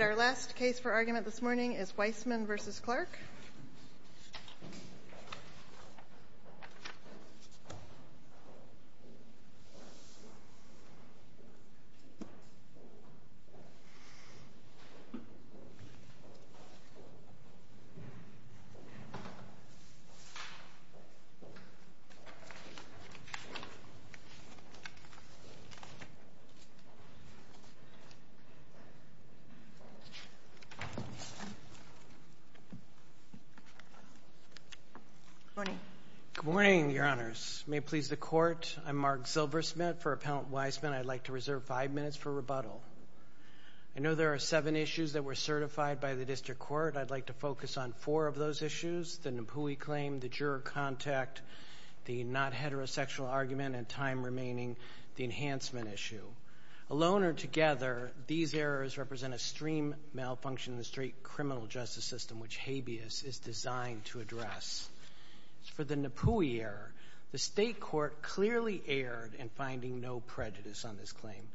Our last case for argument this morning is Weissman v. Clark. Weissman v. Clark Good morning, Your Honors. May it please the Court, I'm Mark Silversmith. For Appellant Weissman, I'd like to reserve five minutes for rebuttal. I know there are seven issues that were certified by the District Court. I'd like to focus on four of those issues, the Napui claim, the juror contact, the not-heterosexual argument, and time remaining, the enhancement issue. Alone or together, these errors represent a stream malfunction in the straight criminal justice system, which habeas is designed to address. For the Napui error, the State Court clearly erred in finding no prejudice on this claim.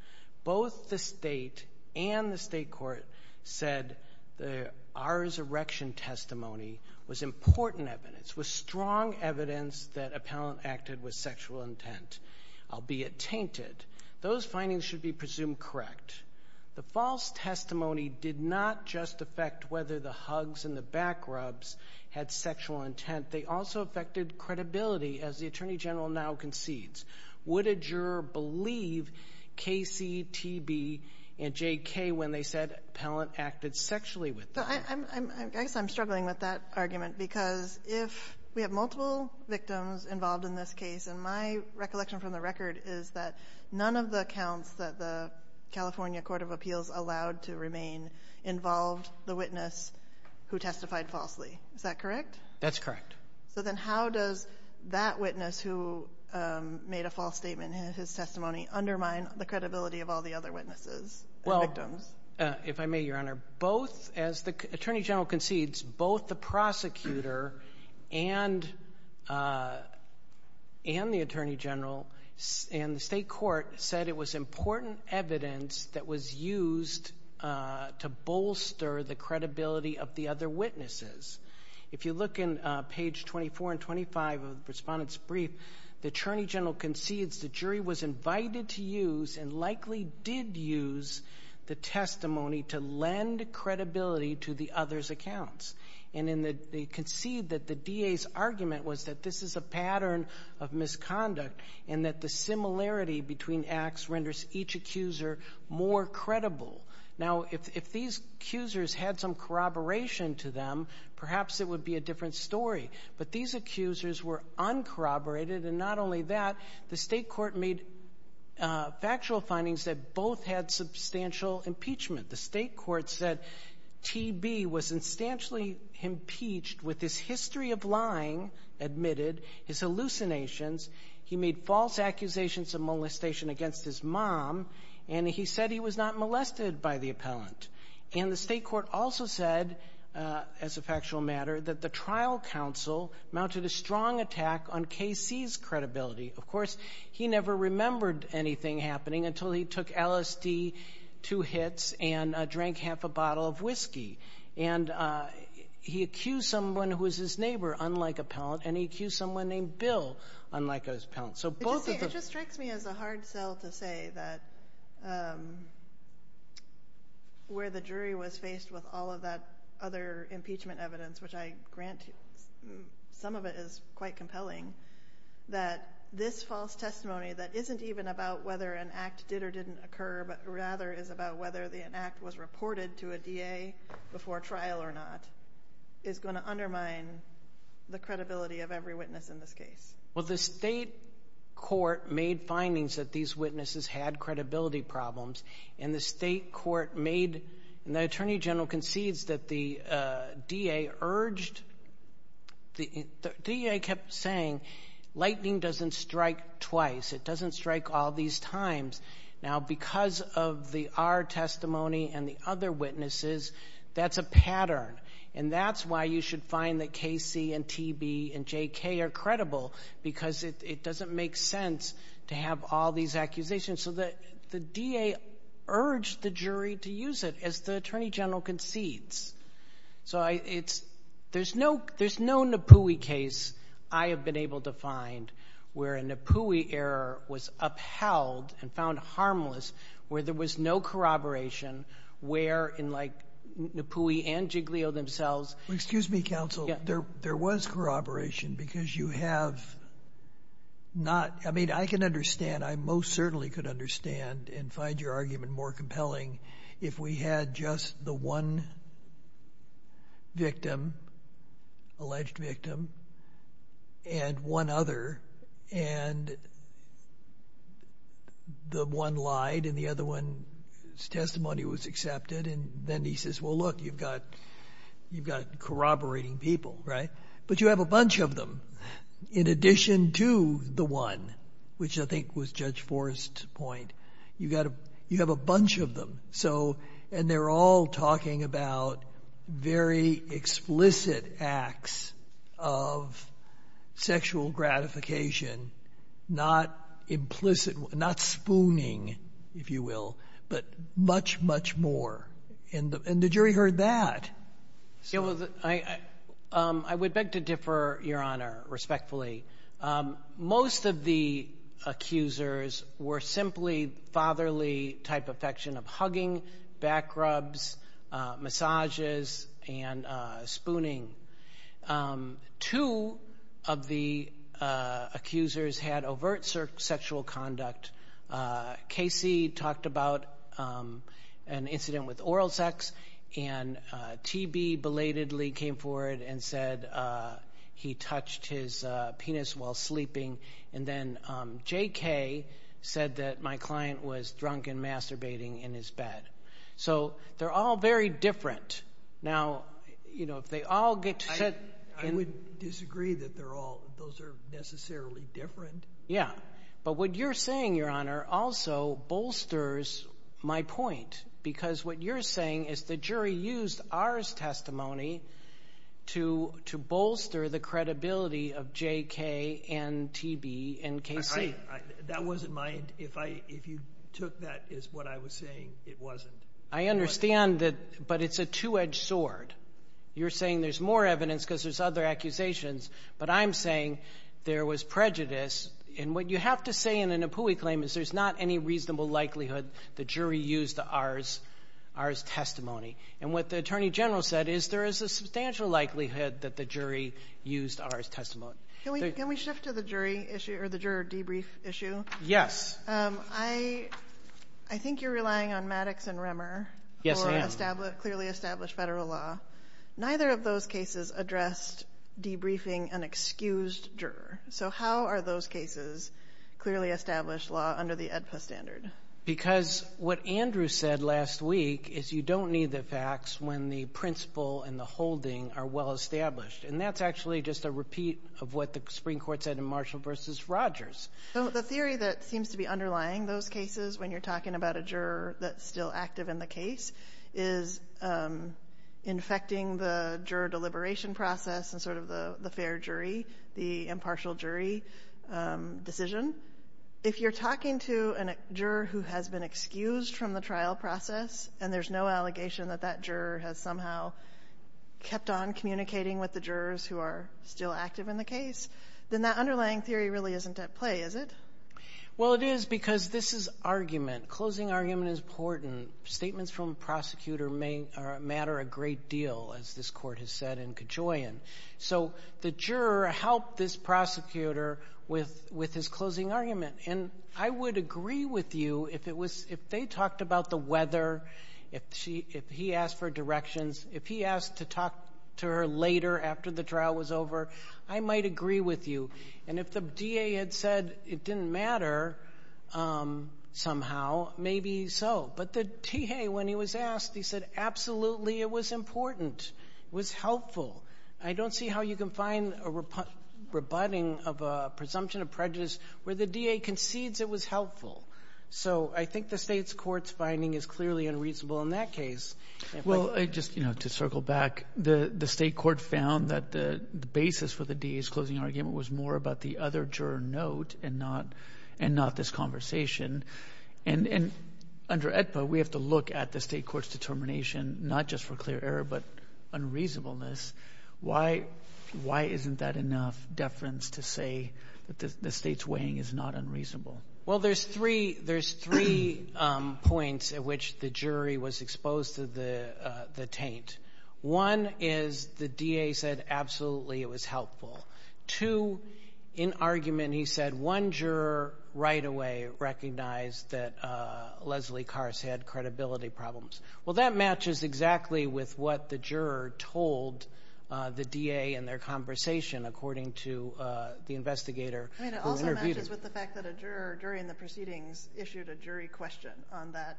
Both the State and the State Court said that our erection testimony was important evidence, was strong evidence that Appellant acted with sexual intent, albeit tainted. Those findings should be presumed correct. The false testimony did not just affect whether the hugs and the back rubs had sexual intent. They also affected credibility, as the Attorney General now concedes. Would a juror believe K.C., T.B., and J.K. when they said Appellant acted sexually with I guess I'm struggling with that argument because if we have multiple victims involved in this case, and my recollection from the record is that none of the accounts that the California Court of Appeals allowed to remain involved the witness who testified falsely. Is that correct? That's correct. So then how does that witness who made a false statement in his testimony undermine the credibility of all the other witnesses and victims? If I may, Your Honor, both, as the Attorney General concedes, both the prosecutor and the Attorney General and the State Court said it was important evidence that was used to bolster the credibility of the other witnesses. If you look in page 24 and 25 of the Respondent's Brief, the Attorney General concedes the jury was invited to use, and likely did use, the testimony to lend credibility to the other's accounts. And they concede that the DA's argument was that this is a pattern of misconduct and that the similarity between acts renders each accuser more credible. Now if these accusers had some corroboration to them, perhaps it would be a different story. But these accusers were uncorroborated, and not only that, the State Court made factual findings that both had substantial impeachment. The State Court said TB was substantially impeached with his history of lying admitted, his hallucinations. He made false accusations of molestation against his mom, and he said he was not molested by the appellant. And the State Court also said, as a factual matter, that the trial counsel mounted a strong attack on KC's credibility. Of course, he never remembered anything happening until he took LSD, two hits, and drank half a bottle of whiskey. And he accused someone who was his neighbor, unlike appellant, and he accused someone named Bill, unlike appellant. It just strikes me as a hard sell to say that where the jury was faced with all of that other impeachment evidence, which I grant some of it is quite compelling, that this false testimony that isn't even about whether an act did or didn't occur, but rather is about whether an act was reported to a DA before trial or not, is going to undermine the credibility of every witness in this case. Well, the State Court made findings that these witnesses had credibility problems, and the State Court made, and the Attorney General concedes that the DA urged, the DA kept saying, lightning doesn't strike twice, it doesn't strike all these times. Now because of the R testimony and the other witnesses, that's a pattern, and that's why you should find that KC, and TB, and JK are credible, because it doesn't make sense to have all these accusations. So the DA urged the jury to use it, as the Attorney General concedes. So there's no Napui case I have been able to find where a Napui error was upheld and found harmless, where there was no corroboration, where in like, Napui and Giglio themselves- Well, excuse me, counsel, there was corroboration, because you have not, I mean, I can understand, I most certainly could understand and find your argument more compelling if we had just the one victim, alleged victim, and one other, and the one lied, and the other one's testimony was accepted, and then he says, well, look, you've got corroborating people, right? But you have a bunch of them. In addition to the one, which I think was Judge Forrest's point, you have a bunch of them, and they're all talking about very explicit acts of sexual gratification, not implicit, not spooning, if you will, but much, much more, and the jury heard that. Yeah, well, I would beg to differ, Your Honor, respectfully. Most of the accusers were simply fatherly type affection of hugging, back rubs, massages, and spooning. Two of the accusers had overt sexual conduct. Casey talked about an incident with oral sex, and TB belatedly came forward and said he touched his penis while sleeping, and then JK said that my client was drunk and masturbating in his bed. So they're all very different. Now, if they all get to sit in- I would disagree that those are necessarily different. Yeah, but what you're saying, Your Honor, also bolsters my point, because what you're saying is the jury used our testimony to bolster the credibility of JK and TB and Casey. That wasn't my, if you took that as what I was saying, it wasn't. I understand that, but it's a two-edged sword. You're saying there's more evidence because there's other accusations, but I'm saying there was prejudice, and what you have to say in an Apui claim is there's not any reasonable likelihood the jury used our testimony, and what the Attorney General said is there is a substantial likelihood that the jury used our testimony. Can we shift to the jury issue, or the juror debrief issue? Yes. I think you're relying on Maddox and Remmer for clearly established federal law. Neither of those cases addressed debriefing an excused juror, so how are those cases clearly established law under the AEDPA standard? Because what Andrew said last week is you don't need the facts when the principle and the holding are well-established, and that's actually just a repeat of what the Supreme Court said in Marshall v. Rogers. The theory that seems to be underlying those cases when you're talking about a juror that's still active in the case is infecting the juror deliberation process and sort of the fair jury, the impartial jury decision. If you're talking to a juror who has been excused from the trial process and there's no allegation that that juror has somehow kept on communicating with the jurors who are still active in the case, then that underlying theory really isn't at play, is it? Well, it is because this is argument. Closing argument is important. Statements from a prosecutor matter a great deal, as this court has said in Kajoyan. So the juror helped this prosecutor with his closing argument. I would agree with you if they talked about the weather, if he asked for directions, if he asked to talk to her later after the trial was over, I might agree with you. And if the DA had said it didn't matter somehow, maybe so. But the TA, when he was asked, he said absolutely it was important, it was helpful. I don't see how you can find a rebutting of a presumption of prejudice where the DA concedes it was helpful. So I think the state's court's finding is clearly unreasonable in that case. Well, just to circle back, the state court found that the basis for the DA's closing argument was more about the other juror note and not this conversation. And under AEDPA, we have to look at the state court's determination, not just for clear error, but unreasonableness. Why isn't that enough deference to say that the state's weighing is not unreasonable? Well, there's three points at which the jury was exposed to the taint. One is the DA said absolutely it was helpful. Two, in argument he said one juror right away recognized that Leslie Kars had credibility problems. Well, that matches exactly with what the juror told the DA in their conversation, according to the investigator who interviewed him. I mean, it also matches with the fact that a juror during the proceedings issued a jury question on that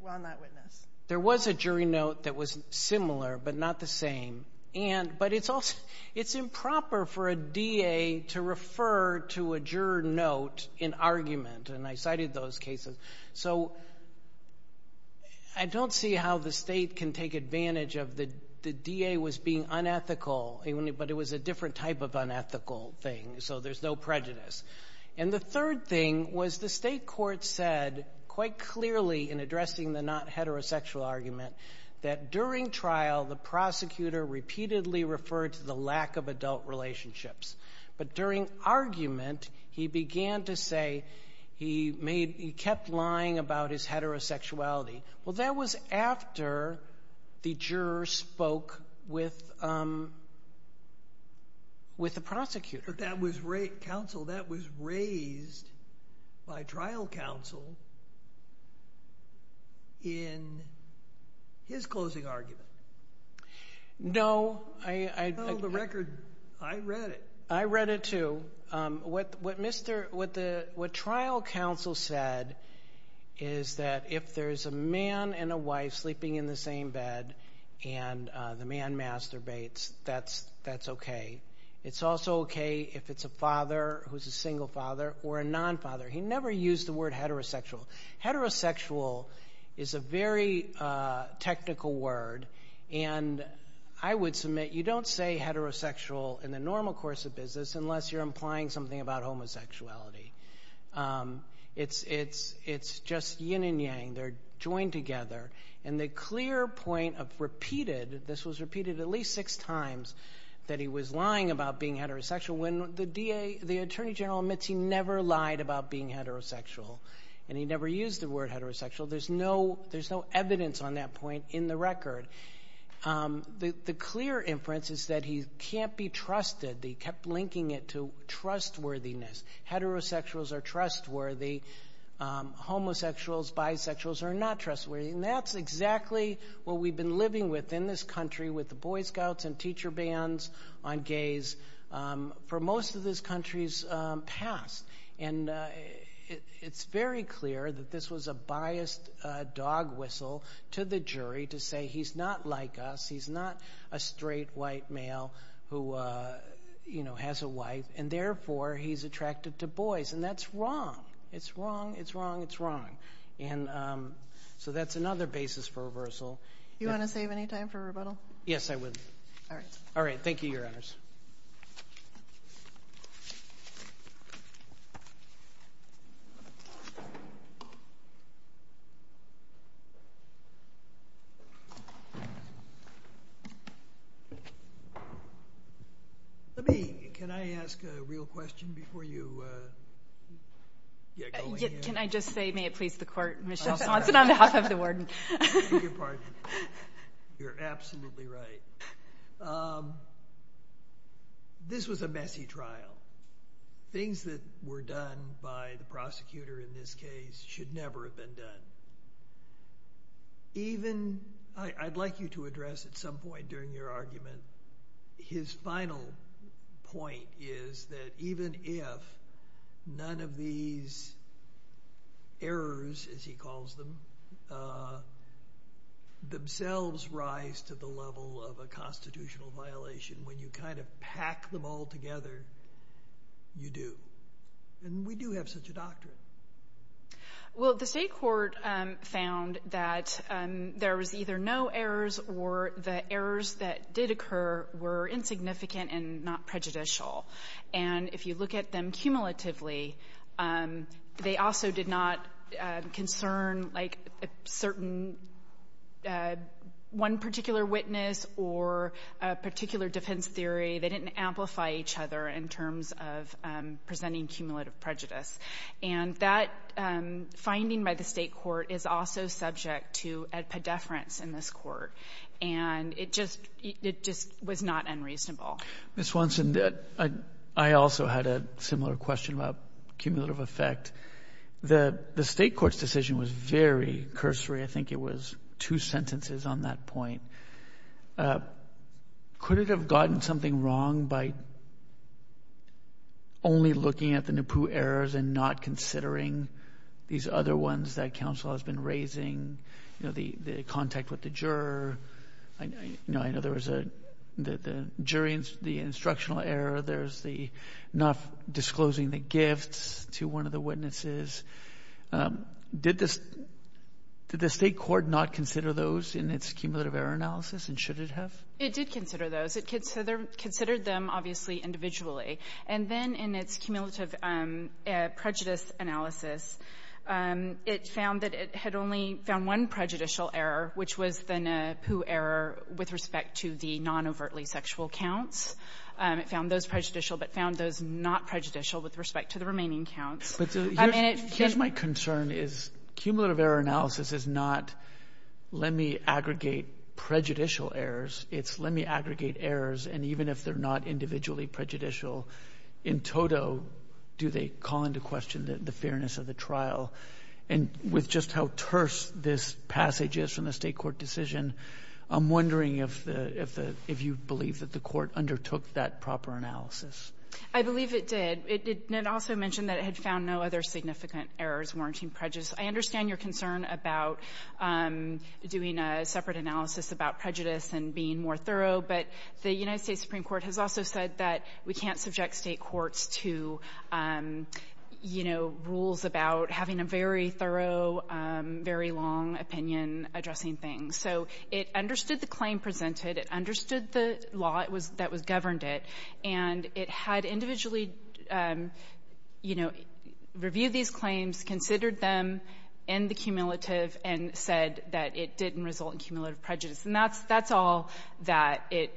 witness. There was a jury note that was similar, but not the same. But it's improper for a DA to refer to a juror note in argument, and I cited those cases. So I don't see how the state can take advantage of the DA was being unethical, but it was a different type of unethical thing. So there's no prejudice. And the third thing was the state court said quite clearly in addressing the not heterosexual argument that during trial, the prosecutor repeatedly referred to the lack of adult relationships. But during argument, he began to say he kept lying about his heterosexuality. Well, that was after the juror spoke with the prosecutor. But that was raised by trial counsel in his closing argument. No. I read the record. I read it. I read it, too. What trial counsel said is that if there's a man and a wife sleeping in the same bed and the man masturbates, that's okay. It's also okay if it's a father who's a single father or a non-father. He never used the word heterosexual. Heterosexual is a very technical word, and I would submit you don't say heterosexual in the normal course of business unless you're implying something about homosexuality. It's just yin and yang. They're joined together. And the clear point of repeated, this was repeated at least six times, that he was lying about being heterosexual when the DA, the Attorney General admits he never lied about being heterosexual. And he never used the word heterosexual. There's no evidence on that point in the record. The clear inference is that he can't be trusted, that he kept linking it to trustworthiness. Heterosexuals are trustworthy. Homosexuals, bisexuals are not trustworthy. And that's exactly what we've been living with in this country with the Boy Scouts and teacher bans on gays for most of this country's past. And it's very clear that this was a biased dog whistle to the jury to say he's not like us. He's not a straight, white male who has a wife. And therefore, he's attractive to boys. And that's wrong. It's wrong. It's wrong. It's wrong. And so that's another basis for reversal. You want to save any time for rebuttal? Yes, I would. All right. All right. Thank you, Your Honors. Let me, can I ask a real question before you get going here? Can I just say, may it please the court, Michelle Sonson on behalf of the warden. You're absolutely right. This was a messy trial. Things that were done by the prosecutor in this case should never have been done. Even, I'd like you to address at some point during your argument, his final point is that Well, the state court found that there was either no errors or the errors that did occur were insignificant and not prejudicial. And if you look at them cumulatively, they also did not concern like a certain one particular witness or a particular defense theory. They didn't amplify each other in terms of presenting cumulative prejudice. And that finding by the state court is also subject to a pedeference in this court. And it just, it just was not unreasonable. Ms. Sonson, I also had a similar question about cumulative effect. The state court's decision was very cursory. I think it was two sentences on that point. Could it have gotten something wrong by only looking at the NEPU errors and not considering these other ones that counsel has been raising, you know, the contact with the juror? I know there was a, the jury, the instructional error, there's the not disclosing the gifts to one of the witnesses. Did this, did the state court not consider those in its cumulative error analysis and should it have? It did consider those. It considered them obviously individually. And then in its cumulative prejudice analysis, it found that it had only found one prejudicial error, which was the NEPU error with respect to the non-overtly sexual counts. It found those prejudicial, but found those not prejudicial with respect to the remaining counts. Here's my concern is cumulative error analysis is not, let me aggregate prejudicial errors. It's let me aggregate errors. And even if they're not individually prejudicial, in total, do they call into question the fairness of the trial? And with just how terse this passage is from the state court decision, I'm wondering if the, if the, if you believe that the court undertook that proper analysis. I believe it did. It did, it also mentioned that it had found no other significant errors warranting prejudice. I understand your concern about doing a separate analysis about prejudice and being more thorough, but the United States Supreme Court has also said that we can't subject state courts to, you know, rules about having a very thorough, very long opinion addressing things. So it understood the claim presented, it understood the law that was governed it, and it had individually, you know, reviewed these claims, considered them in the cumulative, and said that it didn't result in cumulative prejudice, and that's, that's all that it,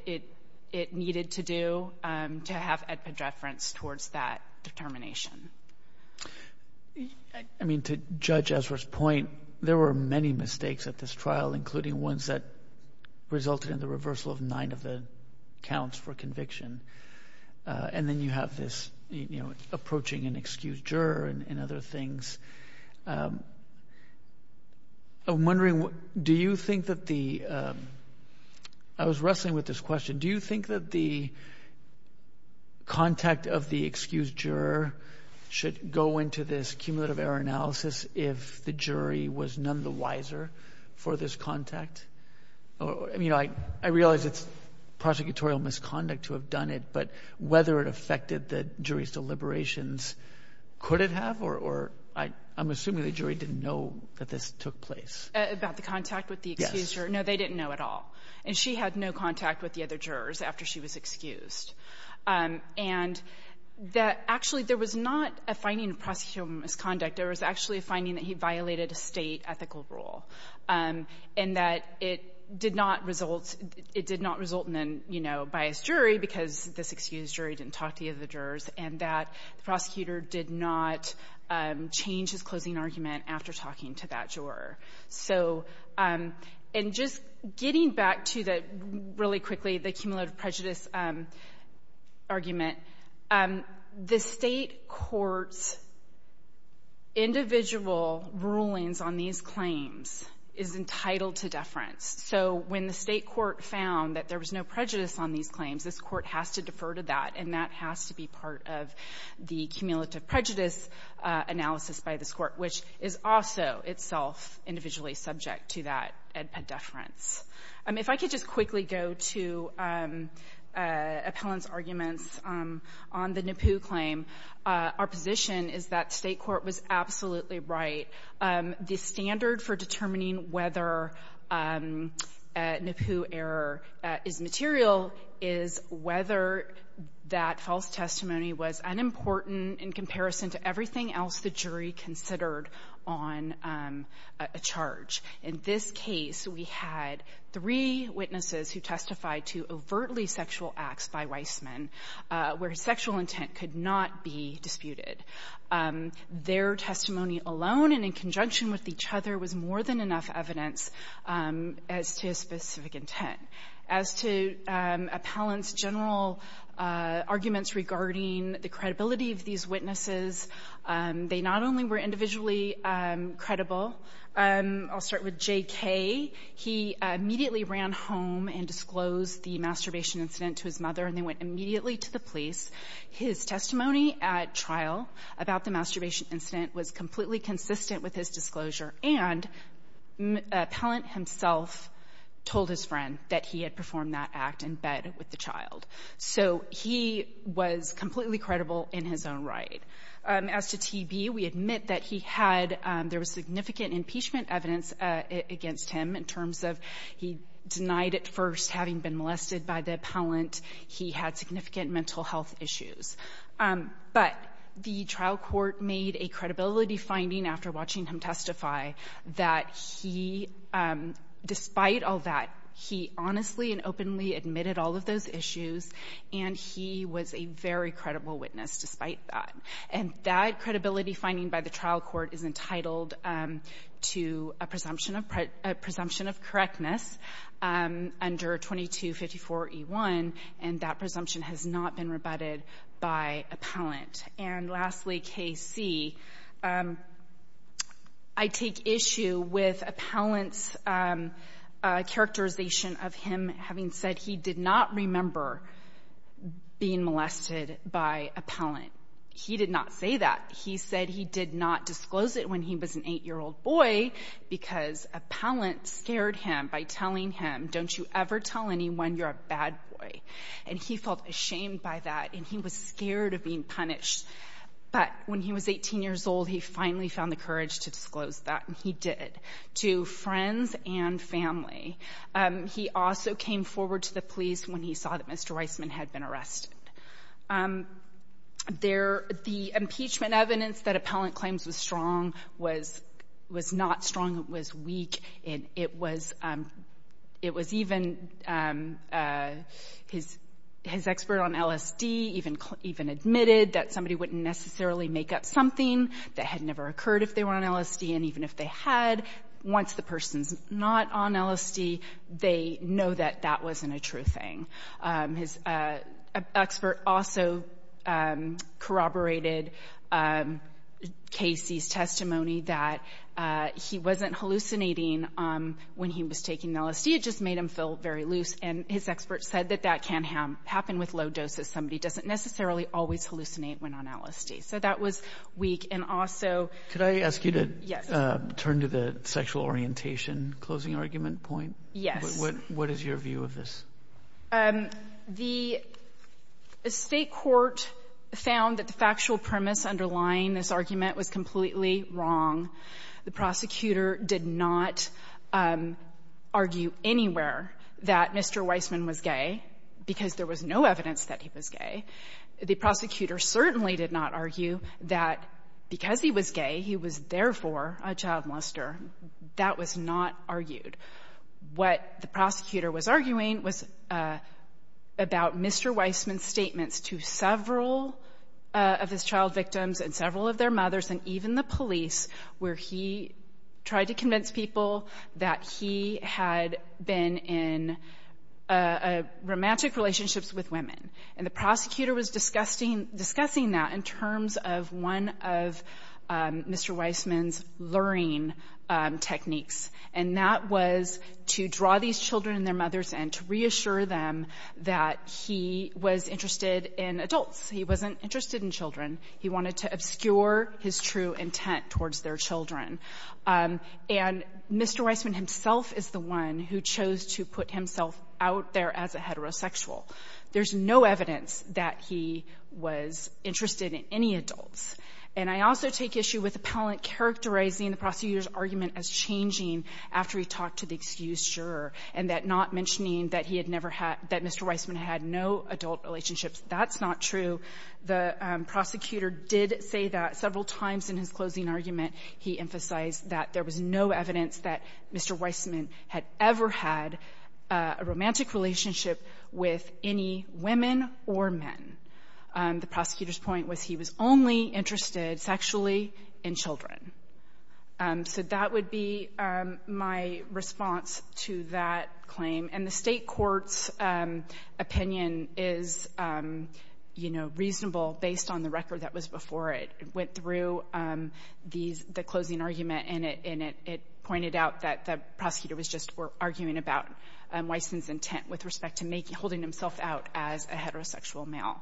it needed to do to have a unified prejudice towards that determination. I mean, to judge Ezra's point, there were many mistakes at this trial, including ones that resulted in the reversal of nine of the counts for conviction. And then you have this, you know, approaching an excused juror and other things. I'm wondering, do you think that the, I was wrestling with this question, do you think that the contact of the excused juror should go into this cumulative error analysis if the jury was none the wiser for this contact? I mean, I realize it's prosecutorial misconduct to have done it, but whether it affected the jury's deliberations, could it have, or I'm assuming the jury didn't know that this took place. About the contact with the excused juror? No, they didn't know at all. And she had no contact with the other jurors after she was excused. And that actually, there was not a finding of prosecutorial misconduct, there was actually a finding that he violated a state ethical rule. And that it did not result, it did not result in, you know, a biased jury because this excused jury didn't talk to the other jurors, and that the prosecutor did not change his closing argument after talking to that juror. So, and just getting back to the, really quickly, the cumulative prejudice argument, the state court's individual rulings on these claims is entitled to deference. So when the state court found that there was no prejudice on these claims, this court has to defer to that, and that has to be part of the cumulative prejudice analysis by this court, which is also itself individually subject to that ed ped deference. If I could just quickly go to Appellant's arguments on the NAPU claim. Our position is that state court was absolutely right. The standard for determining whether NAPU error is material is whether that false testimony was unimportant in comparison to everything else the jury considered on a charge. In this case, we had three witnesses who testified to overtly sexual acts by Weissman, where his sexual intent could not be disputed. Their testimony alone and in conjunction with each other was more than enough evidence as to his specific intent. As to Appellant's general arguments regarding the credibility of these witnesses, they not only were individually credible, I'll start with J.K. He immediately ran home and disclosed the masturbation incident to his mother, and they went immediately to the police. His testimony at trial about the masturbation incident was completely consistent with his disclosure, and Appellant himself told his friend that he had performed that act in bed with the child. So he was completely credible in his own right. As to T.B., we admit that there was significant impeachment evidence against him in terms of he denied at first having been molested by the appellant. He had significant mental health issues. But the trial court made a credibility finding after watching him testify that he, despite all that, he honestly and openly admitted all of those issues, and he was a very credible witness despite that. And that credibility finding by the trial court is entitled to a presumption of correctness under 2254E1, and that presumption has not been rebutted by Appellant. And lastly, K.C., I take issue with Appellant's characterization of him having said he did not remember being molested by Appellant. He did not say that. He said he did not disclose it when he was an 8-year-old boy because Appellant scared him by telling him, don't you ever tell anyone you're a bad boy. And he felt ashamed by that, and he was scared of being punished. But when he was 18 years old, he finally found the courage to disclose that, and he did, to friends and family. He also came forward to the police when he saw that Mr. Weissman had been arrested. The impeachment evidence that Appellant claims was strong was not strong, it was weak, and it was even his expert on LSD even admitted that somebody wouldn't necessarily make up something that had never occurred if they were on LSD, and even if they had, once the person's not on LSD, they know that that wasn't a true thing. His expert also corroborated Casey's testimony that he wasn't hallucinating when he was taking LSD. It just made him feel very loose, and his expert said that that can happen with low doses. Somebody doesn't necessarily always hallucinate when on LSD. So that was weak, and also- Could I ask you to turn to the sexual orientation closing argument point? Yes. What is your view of this? The state court found that the factual premise underlying this argument was completely wrong. The prosecutor did not argue anywhere that Mr. Weissman was gay, because there was no evidence that he was gay. The prosecutor certainly did not argue that because he was gay, he was therefore a child molester. That was not argued. What the prosecutor was arguing was about Mr. Weissman's statements to several of his child victims, and several of their mothers, and even the police, where he tried to convince people that he had been in romantic relationships with women. And the prosecutor was discussing that in terms of one of Mr. Weissman's learning techniques, and that was to draw these children and their mothers in, to reassure them that he was interested in adults. He wasn't interested in children. He wanted to obscure his true intent towards their children. And Mr. Weissman himself is the one who chose to put himself out there as a heterosexual. There's no evidence that he was interested in any adults. And I also take issue with the appellant characterizing the prosecutor's argument as changing after he talked to the excused juror, and that not mentioning that he had never had — that Mr. Weissman had no adult relationships, that's not true. The prosecutor did say that several times in his closing argument. He emphasized that there was no evidence that Mr. Weissman had ever had a romantic relationship with any women or men. The prosecutor's point was he was only interested sexually in children. So that would be my response to that claim. And the state court's opinion is, you know, reasonable based on the record that was before it. It went through these — the closing argument, and it pointed out that the prosecutor was just arguing about Weissman's intent with respect to making — holding himself out as a heterosexual male.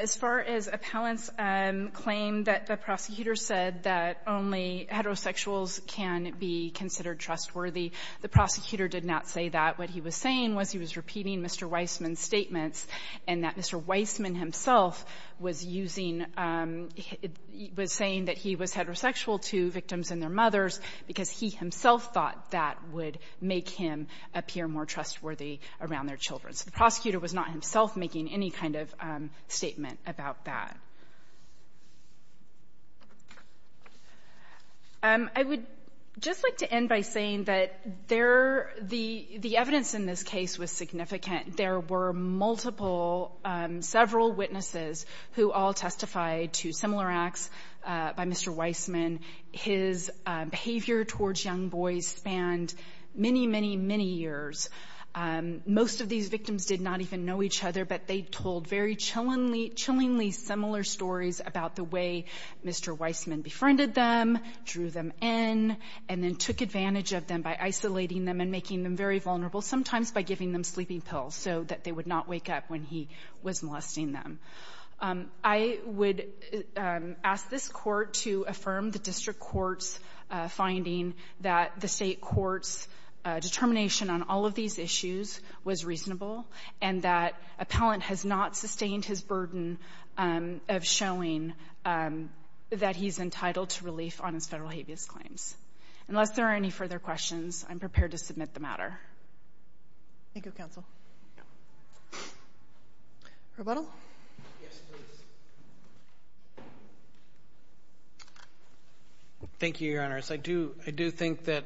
As far as appellants' claim that the prosecutor said that only heterosexuals can be considered trustworthy, the prosecutor did not say that. What he was saying was he was repeating Mr. Weissman's statements, and that Mr. Weissman himself was using — was saying that he was heterosexual to victims and their mothers because he himself thought that would make him appear more trustworthy around their children. So the prosecutor was not himself making any kind of statement about that. I would just like to end by saying that there — the evidence in this case was significant. There were multiple, several witnesses who all testified to similar acts by Mr. Weissman. His behavior towards young boys spanned many, many, many years. Most of these victims did not even know each other, but they told very chillingly similar stories about the way Mr. Weissman befriended them, drew them in, and then took advantage of them by isolating them and making them very vulnerable, sometimes by giving them sleeping pills so that they would not wake up when he was molesting them. I would ask this Court to affirm the district court's finding that the state court's determination on all of these issues was reasonable, and that appellant has not sustained his burden of showing that he's entitled to relief on his federal habeas claims. Unless there are any further questions, I'm prepared to submit the matter. Thank you, counsel. Pro Bono? Yes, please. Thank you, Your Honor. I do think that,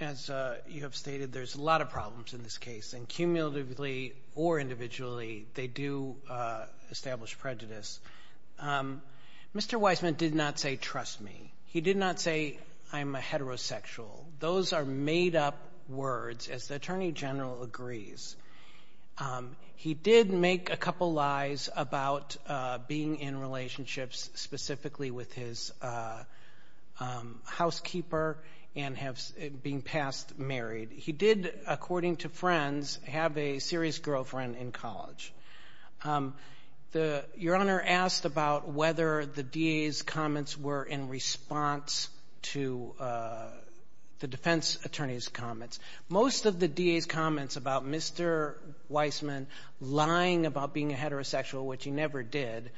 as you have stated, there's a lot of problems in this case, and cumulatively or individually, they do establish prejudice. Mr. Weissman did not say, trust me. He did not say, I'm a heterosexual. Those are made-up words, as the Attorney General agrees. He did make a couple of lies about being in relationships specifically with his housekeeper and being past married. He did, according to friends, have a serious girlfriend in college. Your Honor asked about whether the DA's comments were in response to the defense attorney's Most of the DA's comments about Mr. Weissman lying about being a heterosexual, which he never did,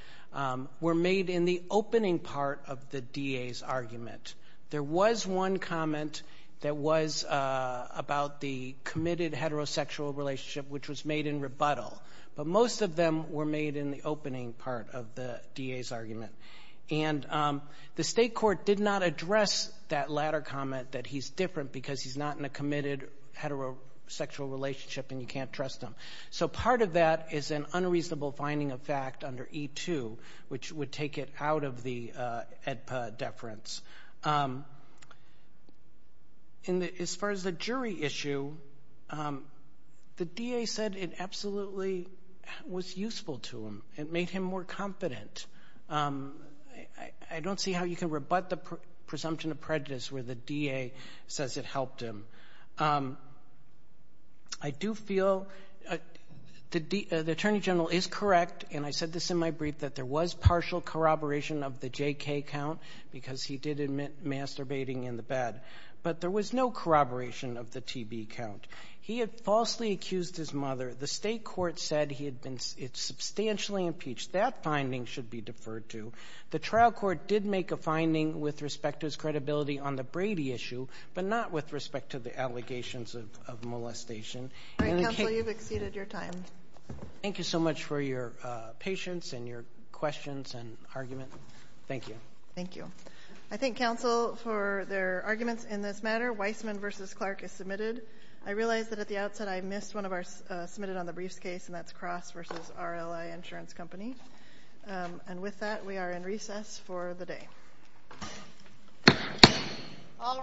were made in the opening part of the DA's argument. There was one comment that was about the committed heterosexual relationship, which was made in rebuttal. But most of them were made in the opening part of the DA's argument. And the state court did not address that latter comment, that he's different because he's not in a committed heterosexual relationship and you can't trust him. So, part of that is an unreasonable finding of fact under E-2, which would take it out of the AEDPA deference. As far as the jury issue, the DA said it absolutely was useful to him. It made him more confident. I don't see how you can rebut the presumption of prejudice where the DA says it helped him. I do feel the Attorney General is correct, and I said this in my brief, that there was partial corroboration of the JK count, because he did admit masturbating in the bed. But there was no corroboration of the TB count. He had falsely accused his mother. The state court said he had been substantially impeached. That finding should be deferred to. The trial court did make a finding with respect to his credibility on the Brady issue, but not with respect to the allegations of molestation. All right, counsel, you've exceeded your time. Thank you so much for your patience and your questions and argument. Thank you. Thank you. I thank counsel for their arguments in this matter. Weissman v. Clark is submitted. I realize that at the outset I missed one of our submitted on the briefs case, and that's Cross v. RLI Insurance Company. And with that, we are in recess for the day. All rise.